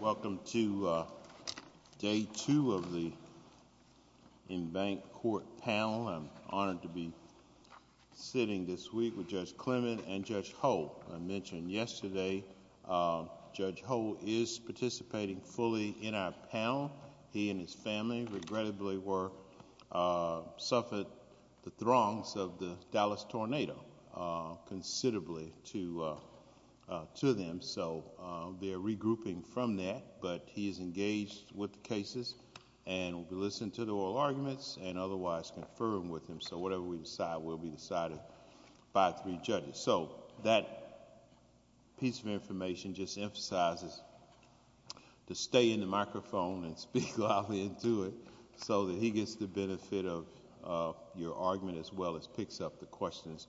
Welcome to day two of the in-bank court panel. I'm honored to be sitting this week with Judge Clement and Judge Holt. I mentioned yesterday Judge Holt is participating fully in our panel. He and his family regrettably were, suffered the regrouping from that, but he is engaged with the cases and will be listening to the oral arguments and otherwise confirm with him. So whatever we decide will be decided by three judges. So that piece of information just emphasizes to stay in the microphone and speak loudly and do it so that he gets the benefit of your argument as well as picks up the questions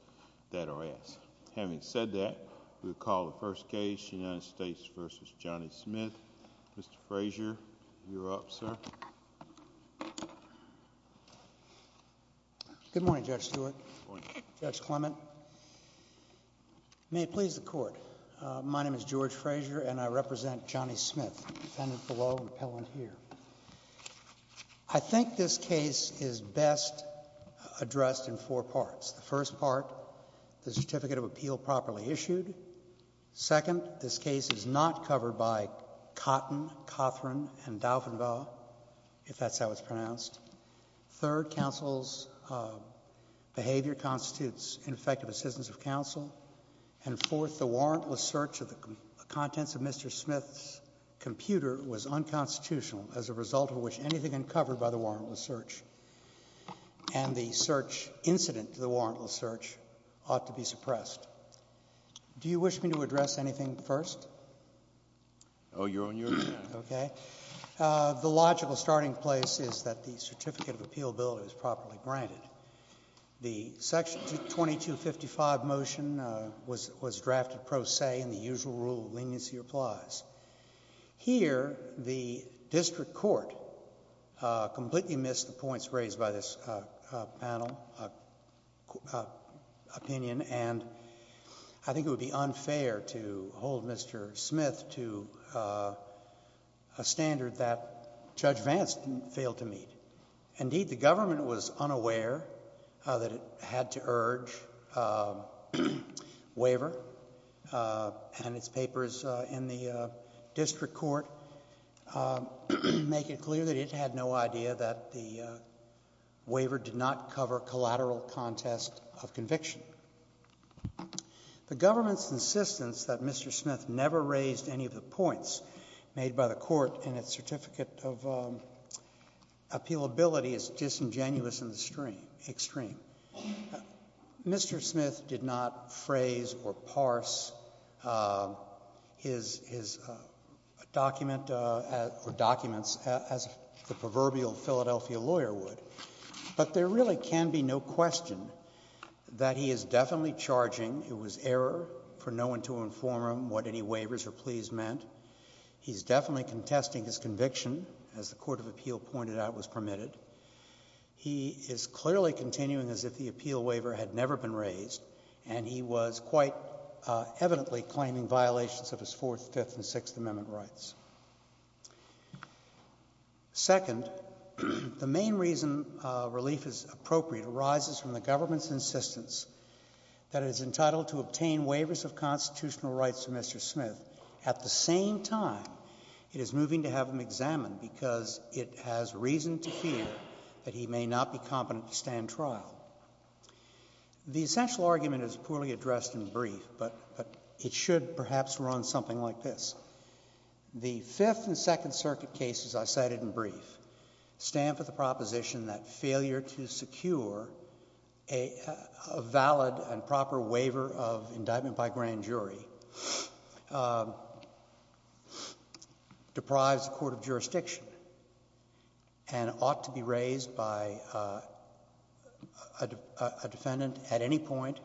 that are asked. Having said that, we'll call the first case, United States v. Johnny Smith. Mr. Frazier, you're up, sir. Good morning, Judge Stewart, Judge Clement. May it please the Court, my name is George Frazier and I represent Johnny Smith, defendant below and appellant here. I think this case is best addressed in four parts. The first part, the certificate of appeal properly issued. Second, this case is not covered by Cotton, Cothran and Dauphinville, if that's how it's pronounced. Third, counsel's behavior constitutes ineffective assistance of counsel. And fourth, the warrantless search of the contents of Mr. Smith's computer was unconstitutional as a result of which anything uncovered by the warrantless search and the search incident to the warrantless search ought to be suppressed. Do you wish me to address anything first? Oh, you're on your end. Okay. The logical starting place is that the certificate of appealability is properly granted. The section 2255 motion was drafted pro se in the usual rule of leniency applies. Here, the district court completely missed the points raised by this panel opinion and I think it would be unfair to hold Mr. Smith to a standard that Judge Vance failed to meet. Indeed, the government was unaware that it had to urge waiver and its papers in the district court make it clear that waiver did not cover collateral contest of conviction. The government's insistence that Mr. Smith never raised any of the points made by the court in its certificate of appealability is disingenuous and extreme. Mr. Smith did not phrase or parse his document or documents as the proverbial Philadelphia lawyer would. But there really can be no question that he is definitely charging it was error for no one to inform him what any waivers or pleas meant. He's definitely contesting his conviction, as the court of appeal pointed out was permitted. He is clearly continuing as if the appeal waiver had never been raised and he was quite evidently claiming violations of his Fourth, Fifth and Sixth Amendment rights. Second, the main reason relief is appropriate arises from the government's insistence that it is entitled to obtain waivers of constitutional rights to Mr. Smith at the same time it is moving to have him examined because it has reason to fear that he may not be competent to stand trial. The essential argument is poorly addressed and brief, but it should perhaps run something like this. The Fifth and Second Circuit cases I cited in brief stand for the proposition that failure to secure a valid and proper waiver of indictment by grand jury deprives the court of jurisdiction and ought to be raised by a defendant at any time.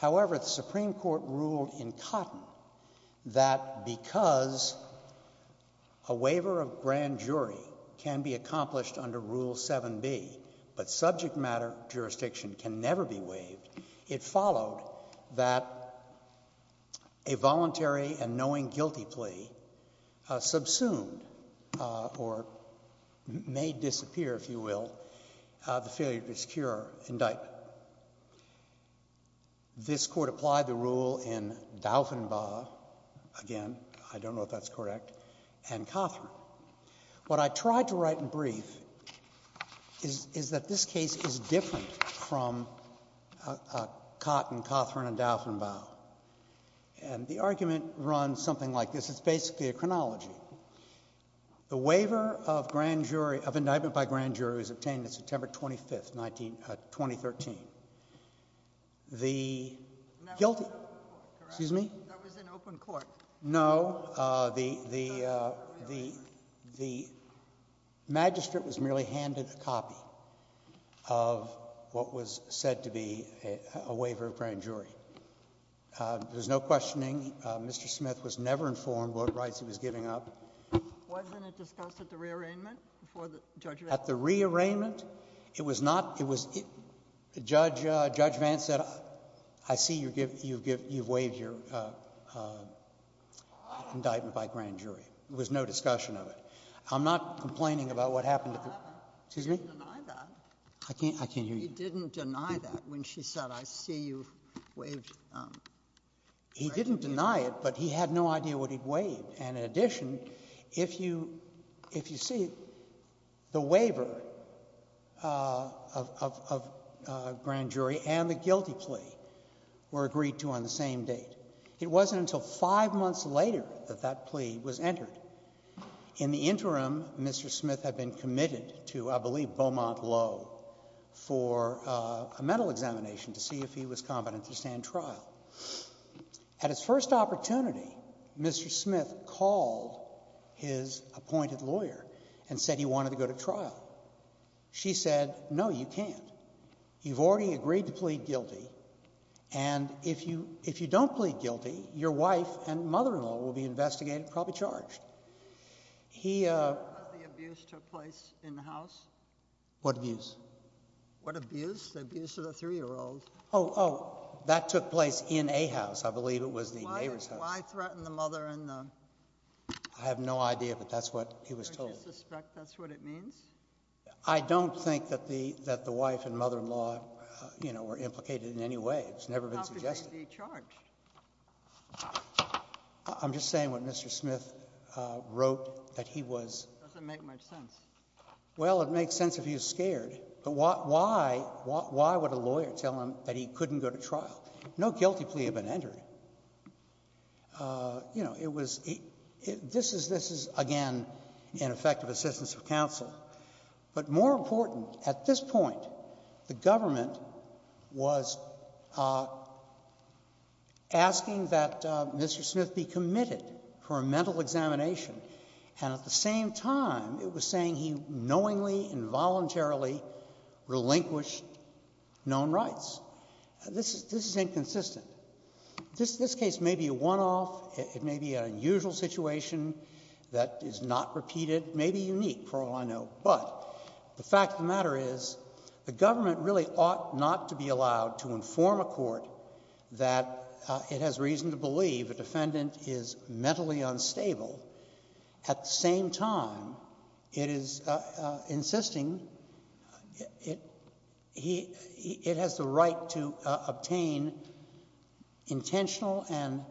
However, the Supreme Court ruled in Cotton that because a waiver of grand jury can be accomplished under Rule 7b, but subject matter jurisdiction can never be waived, it followed that a voluntary and knowing guilty plea subsumed or may disappear, if you will, the failure to secure indictment. This Court applied the rule in Dauphinbaugh, again I don't know if that's correct, and Cothran. What I tried to write in brief is that this case is different from Cotton, Cothran and Dauphinbaugh, and the argument runs something like this. It's basically a chronology. The waiver of indictment by grand jury was obtained on September 25th, 2013. The guilty, excuse me? That was in open court. No, the magistrate was merely handed a copy of what was said to be a waiver of grand jury. There's no questioning. Mr. Smith was never informed what rights he was giving up. Wasn't it discussed at the re-arrangement before the judge? At the re-arrangement, it was not. Judge Vance said, I see you've waived your indictment by grand jury. There was no discussion of it. I'm not complaining about what happened at the ---- He didn't deny that. I can't hear you. He didn't deny that when she said, I see you've waived grand jury. He didn't deny it, but he had no idea what he'd waived. And in addition, if you see, the waiver of grand jury and the guilty plea were agreed to on the same date. It wasn't until five months later that that plea was entered. In the interim, Mr. Smith had been committed to, I believe, Beaumont Low for a mental examination to see if he was competent to stand trial. At his first opportunity, Mr. Smith called his appointed lawyer and said he wanted to go to trial. She said, no, you can't. You've already agreed to plead guilty, and if you don't plead guilty, your wife and mother-in-law will be investigated and probably charged. He Because the abuse took place in the house? What abuse? What abuse? The abuse of a three-year-old. Oh, that took place in a house. I believe it was the neighbor's house. Why threaten the mother-in-law? I have no idea, but that's what he was told. Do you suspect that's what it means? I don't think that the wife and mother-in-law, you know, were implicated in any way. It's never been suggested. How could she be charged? I'm just saying what Mr. Smith wrote, that he was It doesn't make much sense. Well, it makes sense if he was scared, but why would a lawyer tell him that he couldn't go to trial? No guilty plea had been entered. You know, it was, this is, again, ineffective assistance of counsel. But more important, at this point, the government was asking that he knowingly, involuntarily relinquish known rights. This is inconsistent. This case may be a one-off. It may be an unusual situation that is not repeated, maybe unique for all I know. But the fact of the matter is, the government really ought not to be allowed to inform a court that it has reason to believe a defendant is mentally unstable. At the same time, it is insisting it has the right to obtain intentional and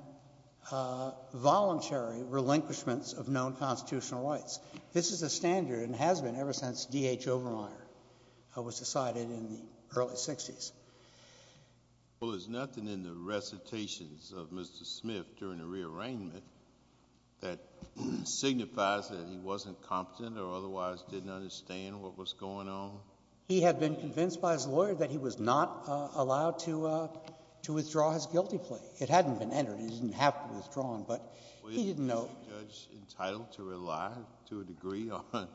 voluntary relinquishments of known constitutional rights. This is a standard and has been ever since D. H. Obermeier was decided in the early 60s. Well, there's nothing in the recitations of Mr. Smith during the rearrangement that signifies that he wasn't competent or otherwise didn't understand what was going on? He had been convinced by his lawyer that he was not allowed to withdraw his guilty plea. It hadn't been entered. He didn't have to withdraw it, but he didn't know. Well, isn't the judge entitled to rely to a degree on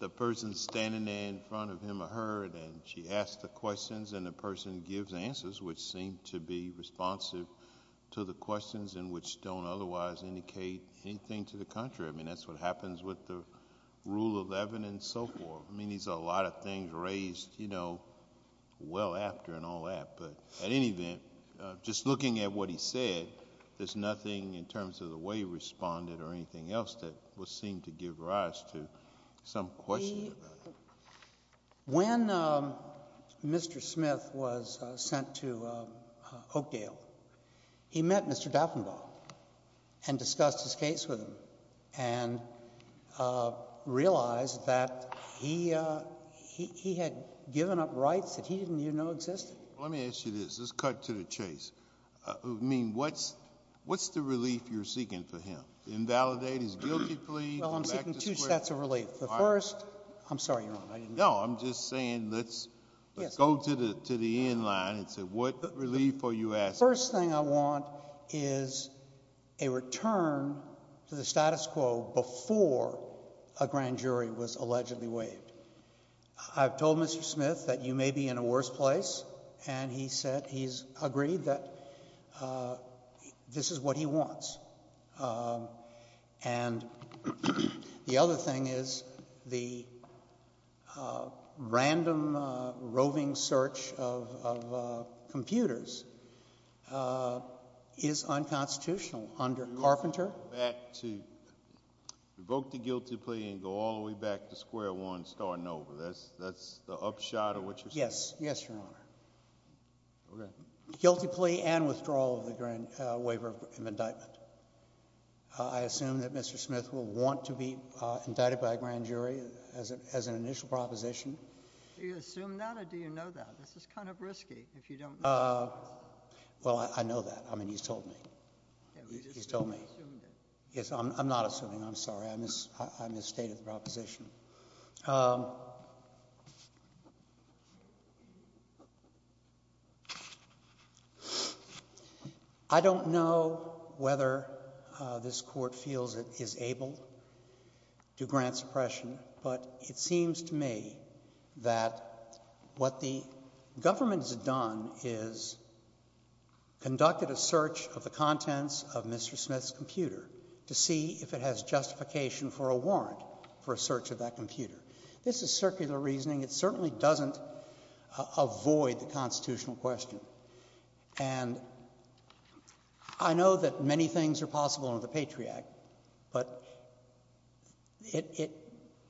the person standing there in front of him or her, and she asks the questions and the person gives the answers, which seem to be responsive to the questions and which don't otherwise indicate anything to the contrary? I mean, that's what happens with the Rule 11 and so forth. I mean, these are a lot of things raised, you know, well after and all that, but at any event, just looking at what he said, there's nothing in terms of the way he responded or anything else that would seem to give rise to some question about it. When Mr. Smith was sent to Oakdale, he met Mr. Duffenbaugh and discussed his case with him and realized that he had given up rights that he didn't even know existed. Well, let me ask you this. Let's cut to the chase. I mean, what's the relief you're seeking for him? Invalidate his guilty plea? Well, I'm seeking two sets of relief. The first, I'm sorry, you're wrong. No, I'm just saying let's go to the end line and say what relief are you asking? First thing I want is a return to the status quo before a grand jury was allegedly waived. I've told Mr. Smith that you may be in a worse place and he said he's agreed that this is what he wants. And the other thing is the random roving search of computers is unconstitutional You want him to go back to, revoke the guilty plea and go all the way back to square one starting over. That's the upshot of what you're saying? Yes. Yes, Your Honor. Okay. Guilty plea and withdrawal of the waiver of indictment. I assume that Mr. Smith will want to be indicted by a grand jury as an initial proposition. Do you assume that or do you know that? This is kind of risky if you don't know that. Well, I know that. I mean, he's told me. He's told me. You just assumed it. Yes, I'm not assuming. I'm sorry. I misstated the proposition. I don't know whether this Court feels it is able to grant suppression, but it seems to me that what the government has done is conducted a search of the contents of Mr. Smith's computer to see if it has justification for a warrant for a search of that computer. This is circular reasoning. It certainly doesn't avoid the constitutional question. And I know that many things are possible under the Patriot Act, but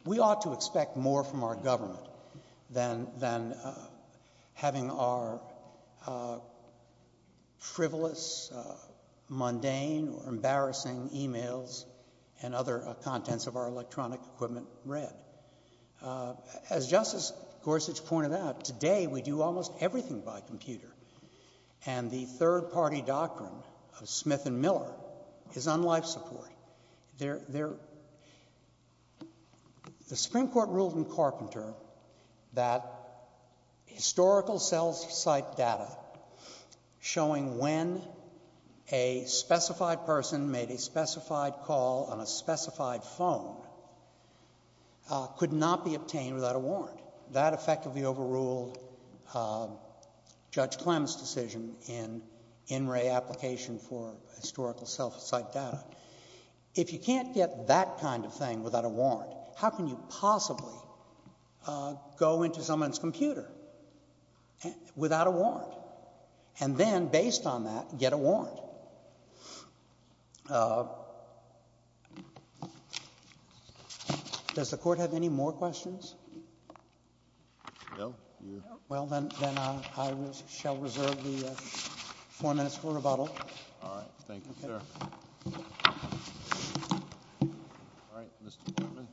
we ought to expect more from our government than having our frivolous, mundane, or embarrassing emails and other contents of our electronic equipment read. As Justice Gorsuch pointed out, today we do almost everything by computer. And the third-party doctrine of Smith and Miller is on life support. The Supreme Court ruled in Carpenter that historical self-cite data showing when a specified person made a specified call on a specified phone could not be obtained without a warrant. That effectively overruled Judge Clem's decision in In Re Application for Historical Self-Cite Data. If you can't get that kind of thing without a warrant, how can you possibly go into someone's computer without a warrant, and then, based on that, get a warrant? Well, does the Court have any more questions? No. Well, then, I shall reserve the four minutes for rebuttal. All right. Thank you, sir. All right. Mr. Portman. I'm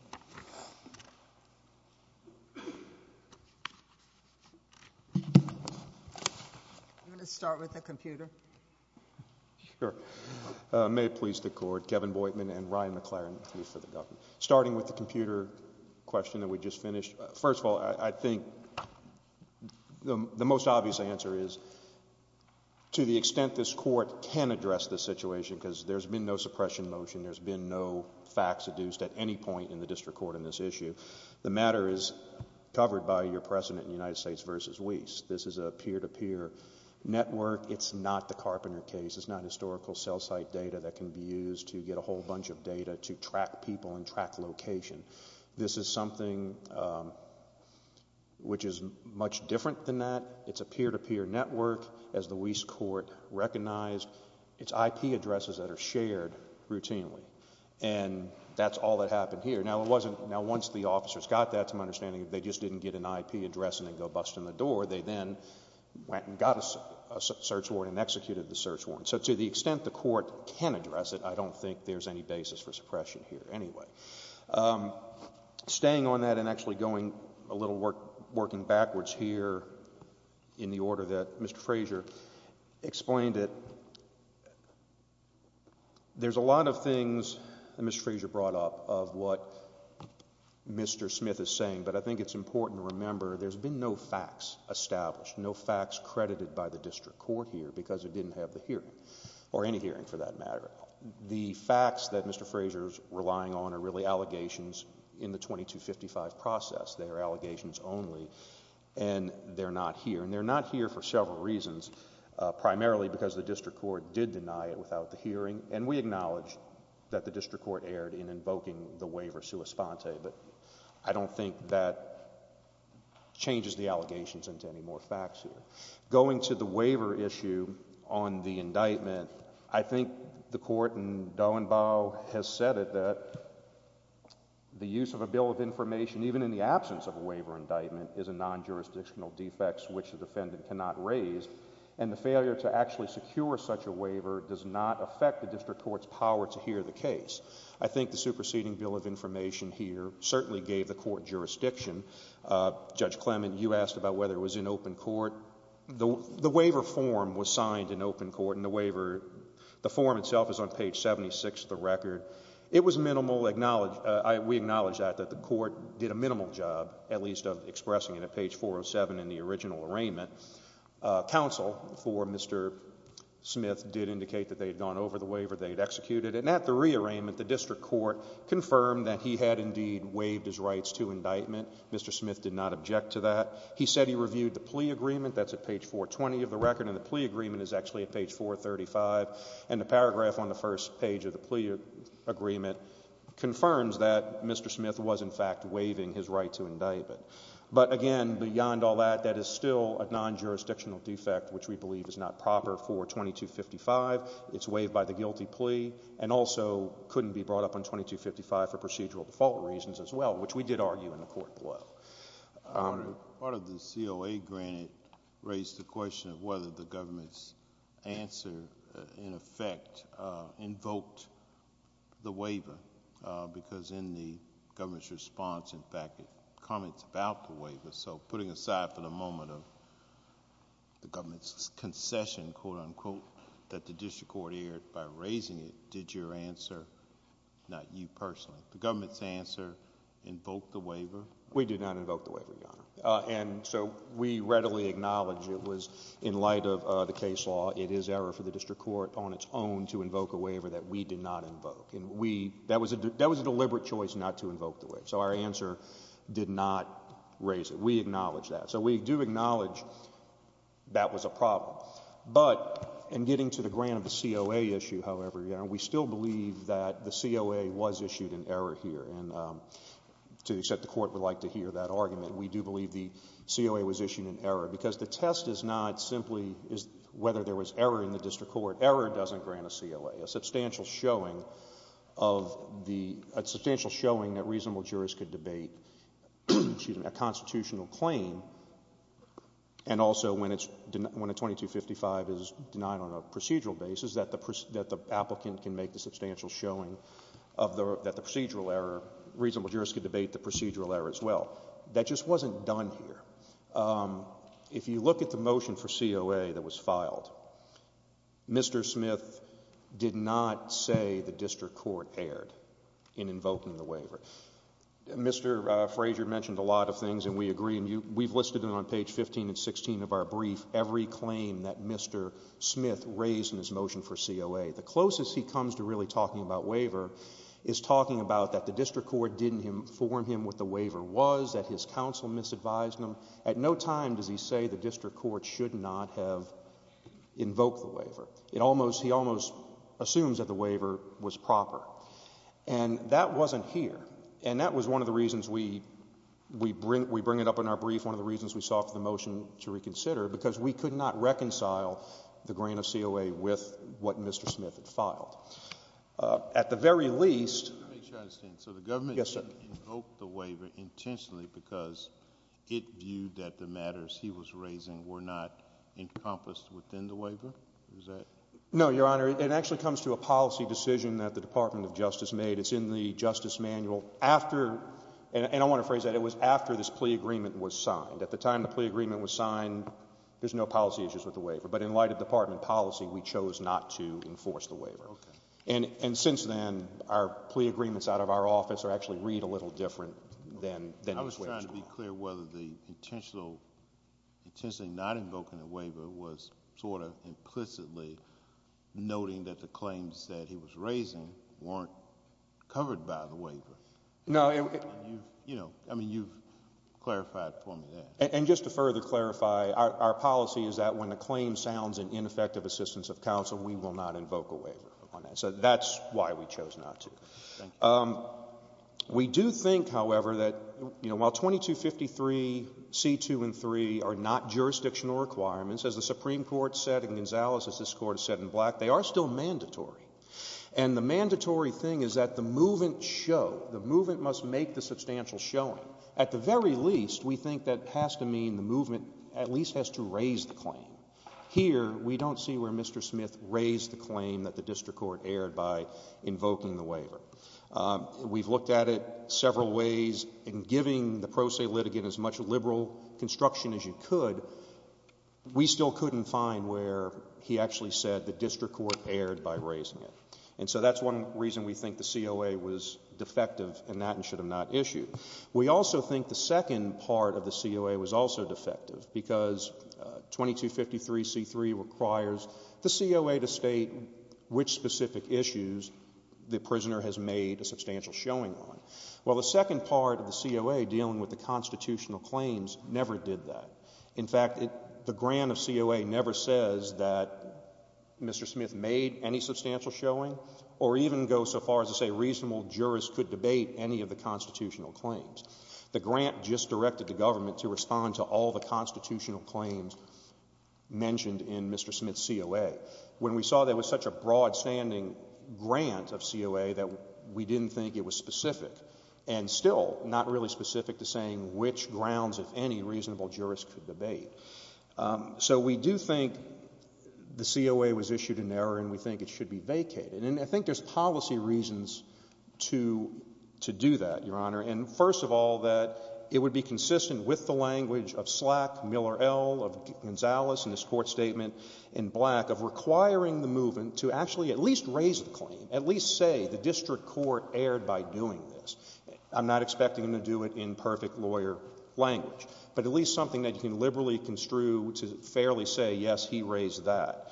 going to start with the computer. Sure. May it please the Court, Kevin Boydman and Ryan McLaren, Chief of the Government. Starting with the computer question that we just finished, first of all, I think the most obvious answer is, to the extent this Court can address this situation, because there's been no suppression motion, there's been no facts adduced at any point in the District Court on this issue, the matter is covered by your precedent in United States v. Wyss. This is a peer-to-peer network. It's not the Carpenter case. It's not historical self-cite data that can be used to get a whole bunch of data to track people and track location. This is something which is much different than that. It's a peer-to-peer network, as routinely, and that's all that happened here. Now, once the officers got that, to my understanding, they just didn't get an IP address and then go busting the door. They then went and got a search warrant and executed the search warrant. So to the extent the Court can address it, I don't think there's any basis for suppression here anyway. Staying on that and actually going a little working backwards here in the order that Mr. Frazier brought up of what Mr. Smith is saying, but I think it's important to remember there's been no facts established, no facts credited by the District Court here because it didn't have the hearing, or any hearing for that matter. The facts that Mr. Frazier's relying on are really allegations in the 2255 process. They are allegations only, and they're not here, and they're not here for several reasons, primarily because the District Court did deny it without the hearing, and we acknowledge that the District Court erred in invoking the waiver sua sponte, but I don't think that changes the allegations into any more facts here. Going to the waiver issue on the indictment, I think the Court in Dauenbau has said it that the use of a bill of information, even in the absence of a waiver indictment, is a non-jurisdictional defect which the defendant cannot raise, and the failure to actually secure such a waiver does not affect the District Court's power to hear the case. I think the superseding bill of information here certainly gave the Court jurisdiction. Judge Clement, you asked about whether it was in open court. The waiver form was signed in open court, and the waiver, the form itself is on page 76 of the record. It was minimal, we acknowledge that, that the Court did a minimal job, at least of expressing it at page 407 in the original arraignment. Counsel for Mr. Smith did indicate that they had gone over the waiver, they had executed it, and at the rearrangement, the District Court confirmed that he had indeed waived his rights to indictment. Mr. Smith did not object to that. He said he reviewed the plea agreement, that's at page 420 of the record, and the plea agreement is actually at page 435, and the paragraph on the first page of the plea agreement confirms that Mr. Smith was in fact waiving his right to indictment. But again, beyond all that, that is still a non-jurisdictional defect, which we believe is not proper for 2255, it's waived by the guilty plea, and also couldn't be brought up on 2255 for procedural default reasons as well, which we did argue in the Court below. Part of the COA granted raised the question of whether the government's answer, in effect, invoked the waiver, because in the government's response, in fact, comments about the waiver, so putting aside for the moment of the government's concession, quote-unquote, that the District Court aired by raising it, did your answer, not you personally, the government's answer invoke the waiver? We did not invoke the waiver, Your Honor, and so we readily acknowledge it was, in light of the case law, it is error for the District Court on its own to invoke a waiver that we did not invoke, and we, that was a deliberate choice not to invoke the waiver, so our answer did not raise it. We acknowledge that. So we do acknowledge that was a problem, but in getting to the grant of the COA issue, however, Your Honor, we still believe that the COA was issued in error here, and to accept the Court would like to hear that argument, we do believe the COA was issued in error, because the test is not simply whether there was error in the District Court. Error doesn't grant a COA. A substantial showing of the, a substantial showing that reasonable jurors could debate a constitutional claim, and also when a 2255 is denied on a procedural basis, that the applicant can make the substantial showing that the procedural error, reasonable jurors could debate the procedural error as well. That just wasn't done here. If you look at the motion for COA that was filed, Mr. Smith did not say the District Court erred in invoking the waiver. Mr. Frazier mentioned a lot of things, and we agree, and we've listed them on page 15 and 16 of our brief, every claim that Mr. Smith raised in his motion for COA. The closest he comes to really talking about waiver is talking about that the District Court didn't inform him what the waiver was, that his counsel misadvised him. At no time does he say the District Court should not have invoked the waiver. It almost, he almost assumes that the waiver was proper, and that wasn't here, and that was one of the reasons we bring it up in our brief, one of the reasons we sought for the motion to reconsider, because we could not reconcile the grain of COA with what Mr. I understand. So the government invoked the waiver intentionally because it viewed that the matters he was raising were not encompassed within the waiver? Is that? No, Your Honor, it actually comes to a policy decision that the Department of Justice made. It's in the Justice Manual after, and I want to phrase that, it was after this plea agreement was signed. At the time the plea agreement was signed, there's no policy issues with the waiver, but in light of Department policy, we chose not to enforce the waiver. Okay. And since then, our plea agreements out of our office are actually read a little different than it was. I was trying to be clear whether the intentional, intentionally not invoking the waiver was sort of implicitly noting that the claims that he was raising weren't covered by the waiver. No. You know, I mean, you've clarified for me that. And just to further clarify, our policy is that when a claim sounds in ineffective assistance of the district court, that's why we chose not to. We do think, however, that, you know, while 2253, C2 and 3 are not jurisdictional requirements, as the Supreme Court said and Gonzales, as this Court has said in black, they are still mandatory. And the mandatory thing is that the movement show, the movement must make the substantial showing. At the very least, we think that has to mean the movement at least has to raise the claim. Here, we don't see where Mr. Smith raised the claim that the district court erred by invoking the waiver. We've looked at it several ways. In giving the pro se litigant as much liberal construction as you could, we still couldn't find where he actually said the district court erred by raising it. And so that's one reason we think the COA was defective in that and should have not issued. We also think the second part of the COA was also defective because 2253, C3 requires the COA to state which specific issues the prisoner has made a substantial showing on. Well, the second part of the COA dealing with the constitutional claims never did that. In fact, the grant of COA never says that Mr. Smith made any substantial showing or even goes so far as to say reasonable jurists could debate any of the constitutional claims. The grant just directed the government to respond to all the constitutional claims mentioned in Mr. Smith's COA. When we saw there was such a broad standing grant of COA that we didn't think it was specific and still not really specific to saying which grounds if any reasonable jurists could debate. So we do think the COA was issued in error and we think it should be vacated. And I think there's policy reasons to do that, Your Honor. And first of all, that it would be consistent with the language of Slack, Miller-Ell, of Gonzales in his court statement, and Black of requiring the movement to actually at least raise the claim, at least say the district court erred by doing this. I'm not expecting them to do it in perfect lawyer language. But at least something that you can liberally construe to fairly say, yes, he raised that.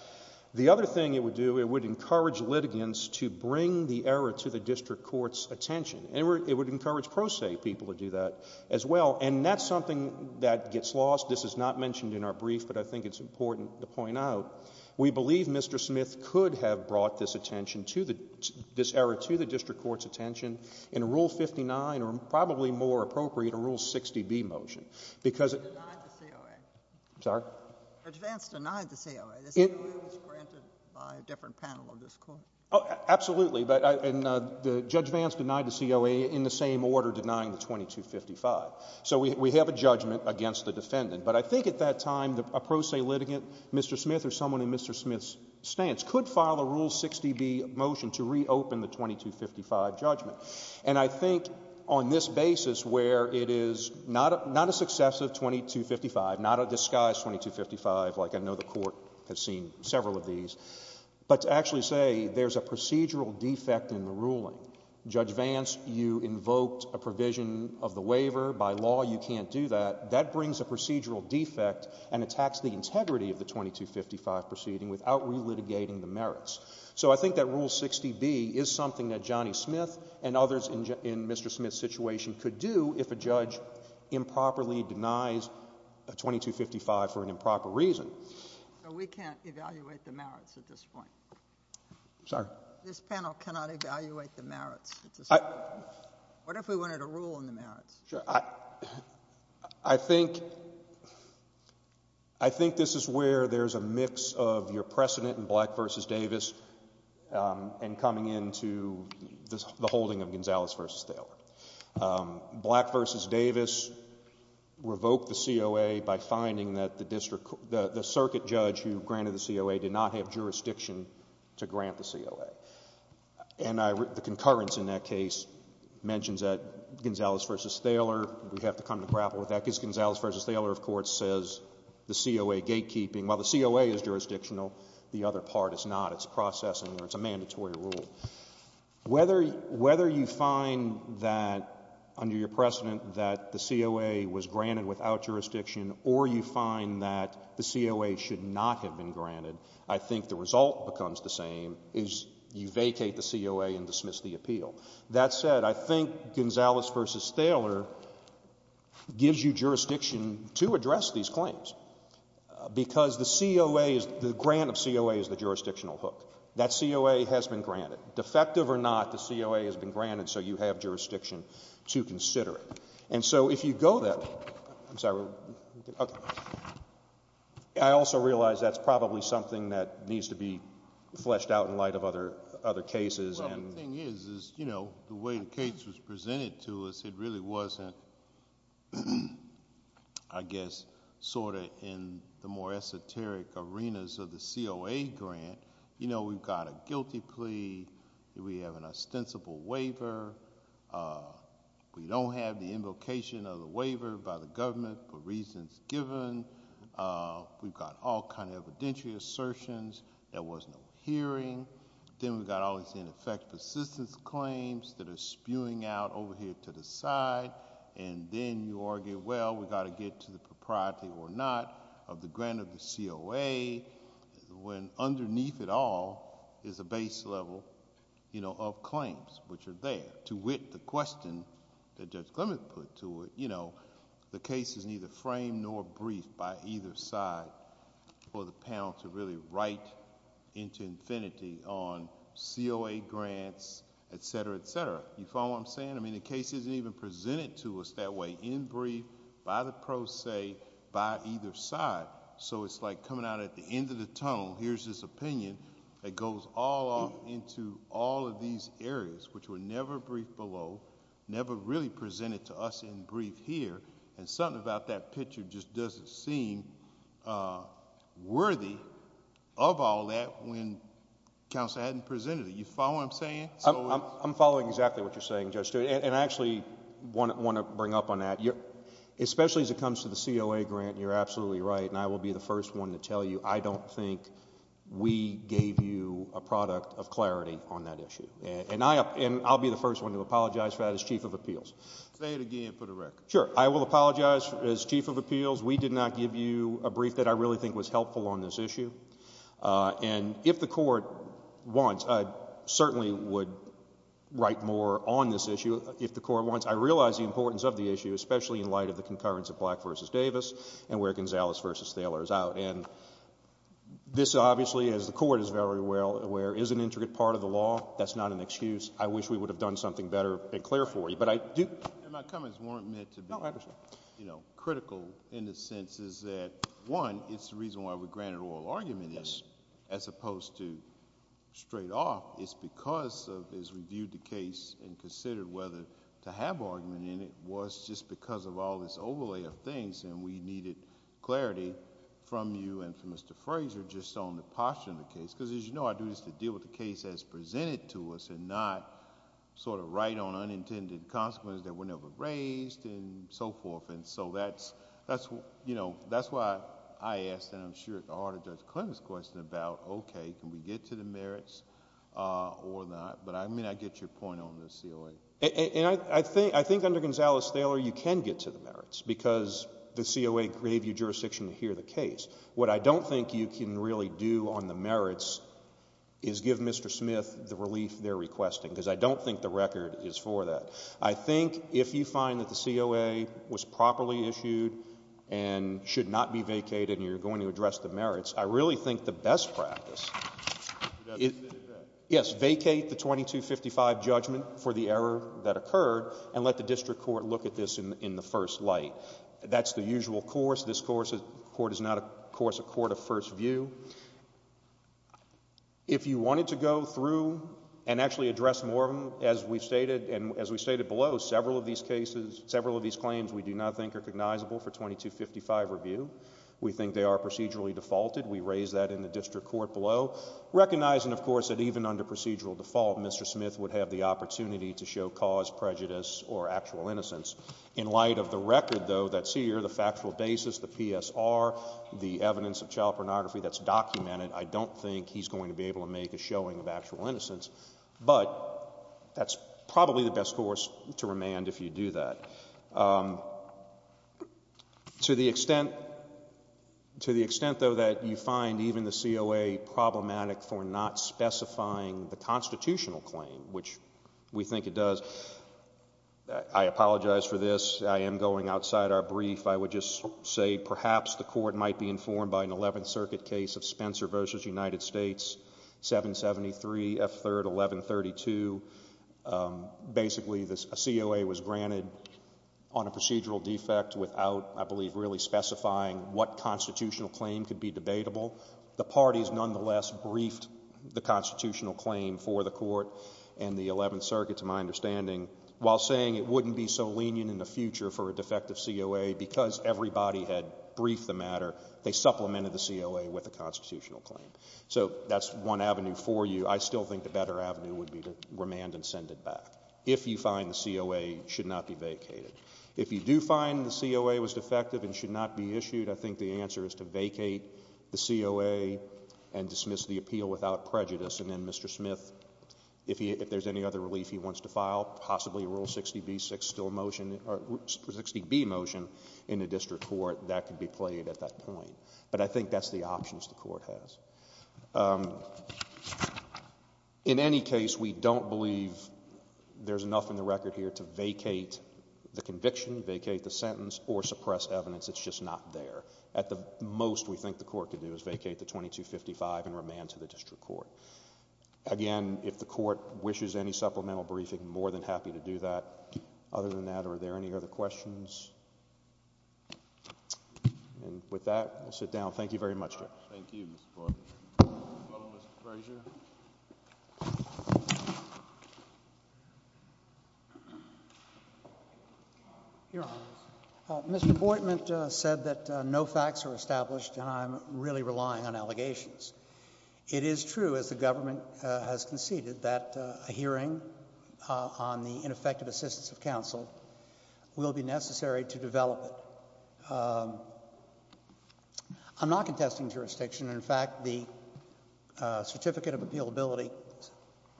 The other thing it would do, it would encourage litigants to bring the error to the district court's attention. And it would encourage pro se people to do that as well. And that's something that gets lost. This is not mentioned in our brief, but I think it's important to point out. We believe Mr. Smith could have brought this attention to the — this error to the district court's attention in Rule 59 or probably more appropriate, a Rule 60B motion. Because — He denied the COA. I'm sorry? Judge Vance denied the COA. The COA was granted by a different panel of this court. Oh, absolutely. But — and Judge Vance denied the COA in the same order denying the 2255. So we have a judgment against the defendant. But I think at that time a pro se litigant, Mr. Smith or someone in Mr. Smith's stance, could file a Rule 60B motion to reopen the Not a successive 2255, not a disguised 2255 like I know the court has seen several of these, but to actually say there's a procedural defect in the ruling. Judge Vance, you invoked a provision of the waiver. By law you can't do that. That brings a procedural defect and attacks the integrity of the 2255 proceeding without relitigating the merits. So I think that Rule 60B is something that Johnny Smith and others in Mr. Smith's situation could do if a judge improperly denies a 2255 for an improper reason. So we can't evaluate the merits at this point? I'm sorry? This panel cannot evaluate the merits at this point? I — What if we wanted a rule on the merits? Sure. I think — I think this is where there's a mix of your precedent in Black v. Davis and coming into the holding of Gonzales v. Thaler. Black v. Davis revoked the COA by finding that the district — the circuit judge who granted the COA did not have jurisdiction to grant the COA. And the concurrence in that case mentions that Gonzales v. Thaler — we have to come to grapple with that because Gonzales v. Thaler, of course, says the COA is jurisdictional, the other part is not. It's processing or it's a mandatory rule. Whether — whether you find that under your precedent that the COA was granted without jurisdiction or you find that the COA should not have been granted, I think the result becomes the same is you vacate the COA and dismiss the appeal. That said, I think Gonzales v. Thaler gives you jurisdiction to address these claims. Because the COA is — the grant of COA is the jurisdictional hook. That COA has been granted. Defective or not, the COA has been granted, so you have jurisdiction to consider it. And so if you go that — I'm sorry. Okay. I also realize that's probably something that needs to be fleshed out in light of other — other cases and — Well, the thing is, is, you know, the way the case was presented to us, it really wasn't, I guess, sort of in the more esoteric arenas of the COA grant. You know, we've got a guilty plea. We have an ostensible waiver. We don't have the invocation of the waiver by the government for reasons given. We've got all kinds of evidentiary assertions. There was no hearing. Then we've got all these ineffective assistance claims that are there, and then you argue, well, we've got to get to the propriety or not of the grant of the COA, when underneath it all is a base level, you know, of claims, which are there. To wit, the question that Judge Clement put to it, you know, the case is neither framed nor briefed by either side for the panel to really write into infinity on COA grants, et cetera, et cetera. You follow what I'm saying? I mean, the case isn't even presented to us that way, in brief, by the pro se, by either side. So it's like coming out at the end of the tunnel, here's this opinion that goes all off into all of these areas, which were never briefed below, never really presented to us in brief here, and something about that picture just doesn't seem worthy of all that when counsel hadn't presented it. You follow what I'm saying? I'm following exactly what you're saying, Judge Stewart, and I actually want to bring up on that. Especially as it comes to the COA grant, you're absolutely right, and I will be the first one to tell you I don't think we gave you a product of clarity on that issue, and I'll be the first one to apologize for that as Chief of Appeals. Say it again for the record. Sure. I will apologize as Chief of Appeals. We did not give you a brief that I really think was helpful on this issue, and if the Court wants, I certainly would write more on this issue if the Court wants. I realize the importance of the issue, especially in light of the concurrence of Black v. Davis and where Gonzalez v. Thaler is out, and this obviously, as the Court is very well aware, is an intricate part of the law. That's not an excuse. I wish we would have done something better and clearer for you. My comments weren't meant to be... No, I understand.... critical in the sense is that, one, it's the reason why we granted oral argument as opposed to straight off. It's because as we viewed the case and considered whether to have argument in it was just because of all this overlay of things, and we needed clarity from you and from Mr. Fraser just on the posture of the case. As you know, I think it's important for us to deal with the case as presented to us and not write on unintended consequences that were never raised and so forth. That's why I asked, and I'm sure it's the heart of Judge Clement's question, about, okay, can we get to the merits or not? I get your point on the COA. I think under Gonzalez-Thaler, you can get to the merits because the COA gave you jurisdiction to hear the case. What I don't think you can really do on the merits is give Mr. Smith the relief they're requesting, because I don't think the record is for that. I think if you find that the COA was properly issued and should not be vacated and you're going to address the merits, I really think the best practice...... is to vacate it then? Yes, vacate the 2255 judgment for the error that occurred and let the district court look at this in the first light. That's the usual course. This court is not, of course, a court of first view. If you wanted to go through and actually address more of them, as we've stated, and as we've stated below, several of these claims we do not think are recognizable for 2255 review. We think they are procedurally defaulted. We raised that in the district court below, recognizing, of course, that even under procedural default, Mr. Smith would have the opportunity to show cause, prejudice, or actual innocence. In light of the record, though, that's here, the factual basis, the PSR, the evidence of child pornography that's documented, I don't think he's going to be able to make a showing of actual innocence. But that's probably the best course to remand if you do that. To the extent, though, that you find even the COA problematic for not specifying the claim, which we think it does, I apologize for this. I am going outside our brief. I would just say perhaps the court might be informed by an 11th Circuit case of Spencer v. United States, 773 F. 3rd, 1132. Basically, a COA was granted on a procedural defect without, I believe, really specifying what constitutional claim could be debatable. The parties, nonetheless, briefed the constitutional claim for the court and the 11th Circuit, to my understanding, while saying it wouldn't be so lenient in the future for a defective COA, because everybody had briefed the matter, they supplemented the COA with a constitutional claim. So that's one avenue for you. I still think the better avenue would be to remand and send it back if you find the COA should not be vacated. If you do find the COA was defective and should not be issued, I think the answer is to vacate the COA and dismiss the appeal without prejudice and then Mr. Smith, if there's any other relief he wants to file, possibly a Rule 60B motion in the district court, that could be played at that point. But I think that's the options the court has. In any case, we don't believe there's enough in the record here to vacate the conviction, vacate the sentence, or suppress evidence. It's just not there. At the most, we think the court could do is vacate the 2255 and remand to the district court. Again, if the court wishes any supplemental briefing, more than happy to do that. Other than that, are there any other questions? And with that, we'll sit down. Thank you very much, Jim. Thank you, Mr. Boitman. Mr. Boitman said that no facts are established and I'm really relying on allegations. It is true, as the government has conceded, that a hearing on the ineffective assistance of counsel will be necessary to develop it. I'm not contesting jurisdiction. In fact, the Certificate of Appealability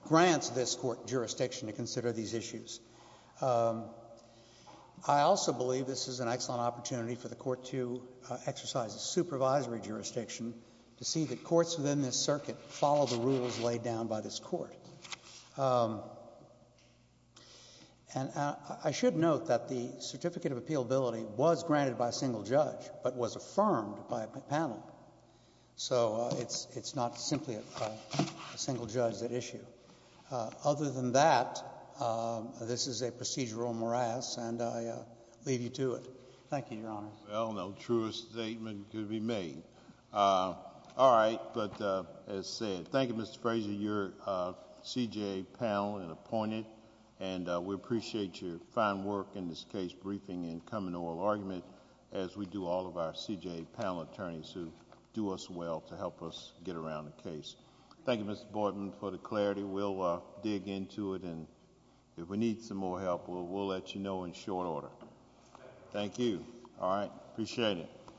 grants this court jurisdiction to consider these issues. I also believe this is an excellent opportunity for the court to exercise a supervisory jurisdiction to see that courts within this circuit follow the rules laid down by this court. And I should note that the Certificate of Appealability was granted by a single judge, but was affirmed by a panel. So it's not simply a single judge at issue. Other than that, this is a procedural morass and I leave you to it. Thank you, Your Honor. Well, no truer statement could be made. All right, but as I said, thank you, Mr. Fraser, you're a CJA panel and appointed and we appreciate your fine work in this case briefing and coming oral argument as we do all of our CJA panel attorneys who do us well to help us get around the case. Thank you, Mr. Boitman, for the clarity. We'll dig into it and if we need some more help, we'll let you know in short order. Thank you. All right. Appreciate it.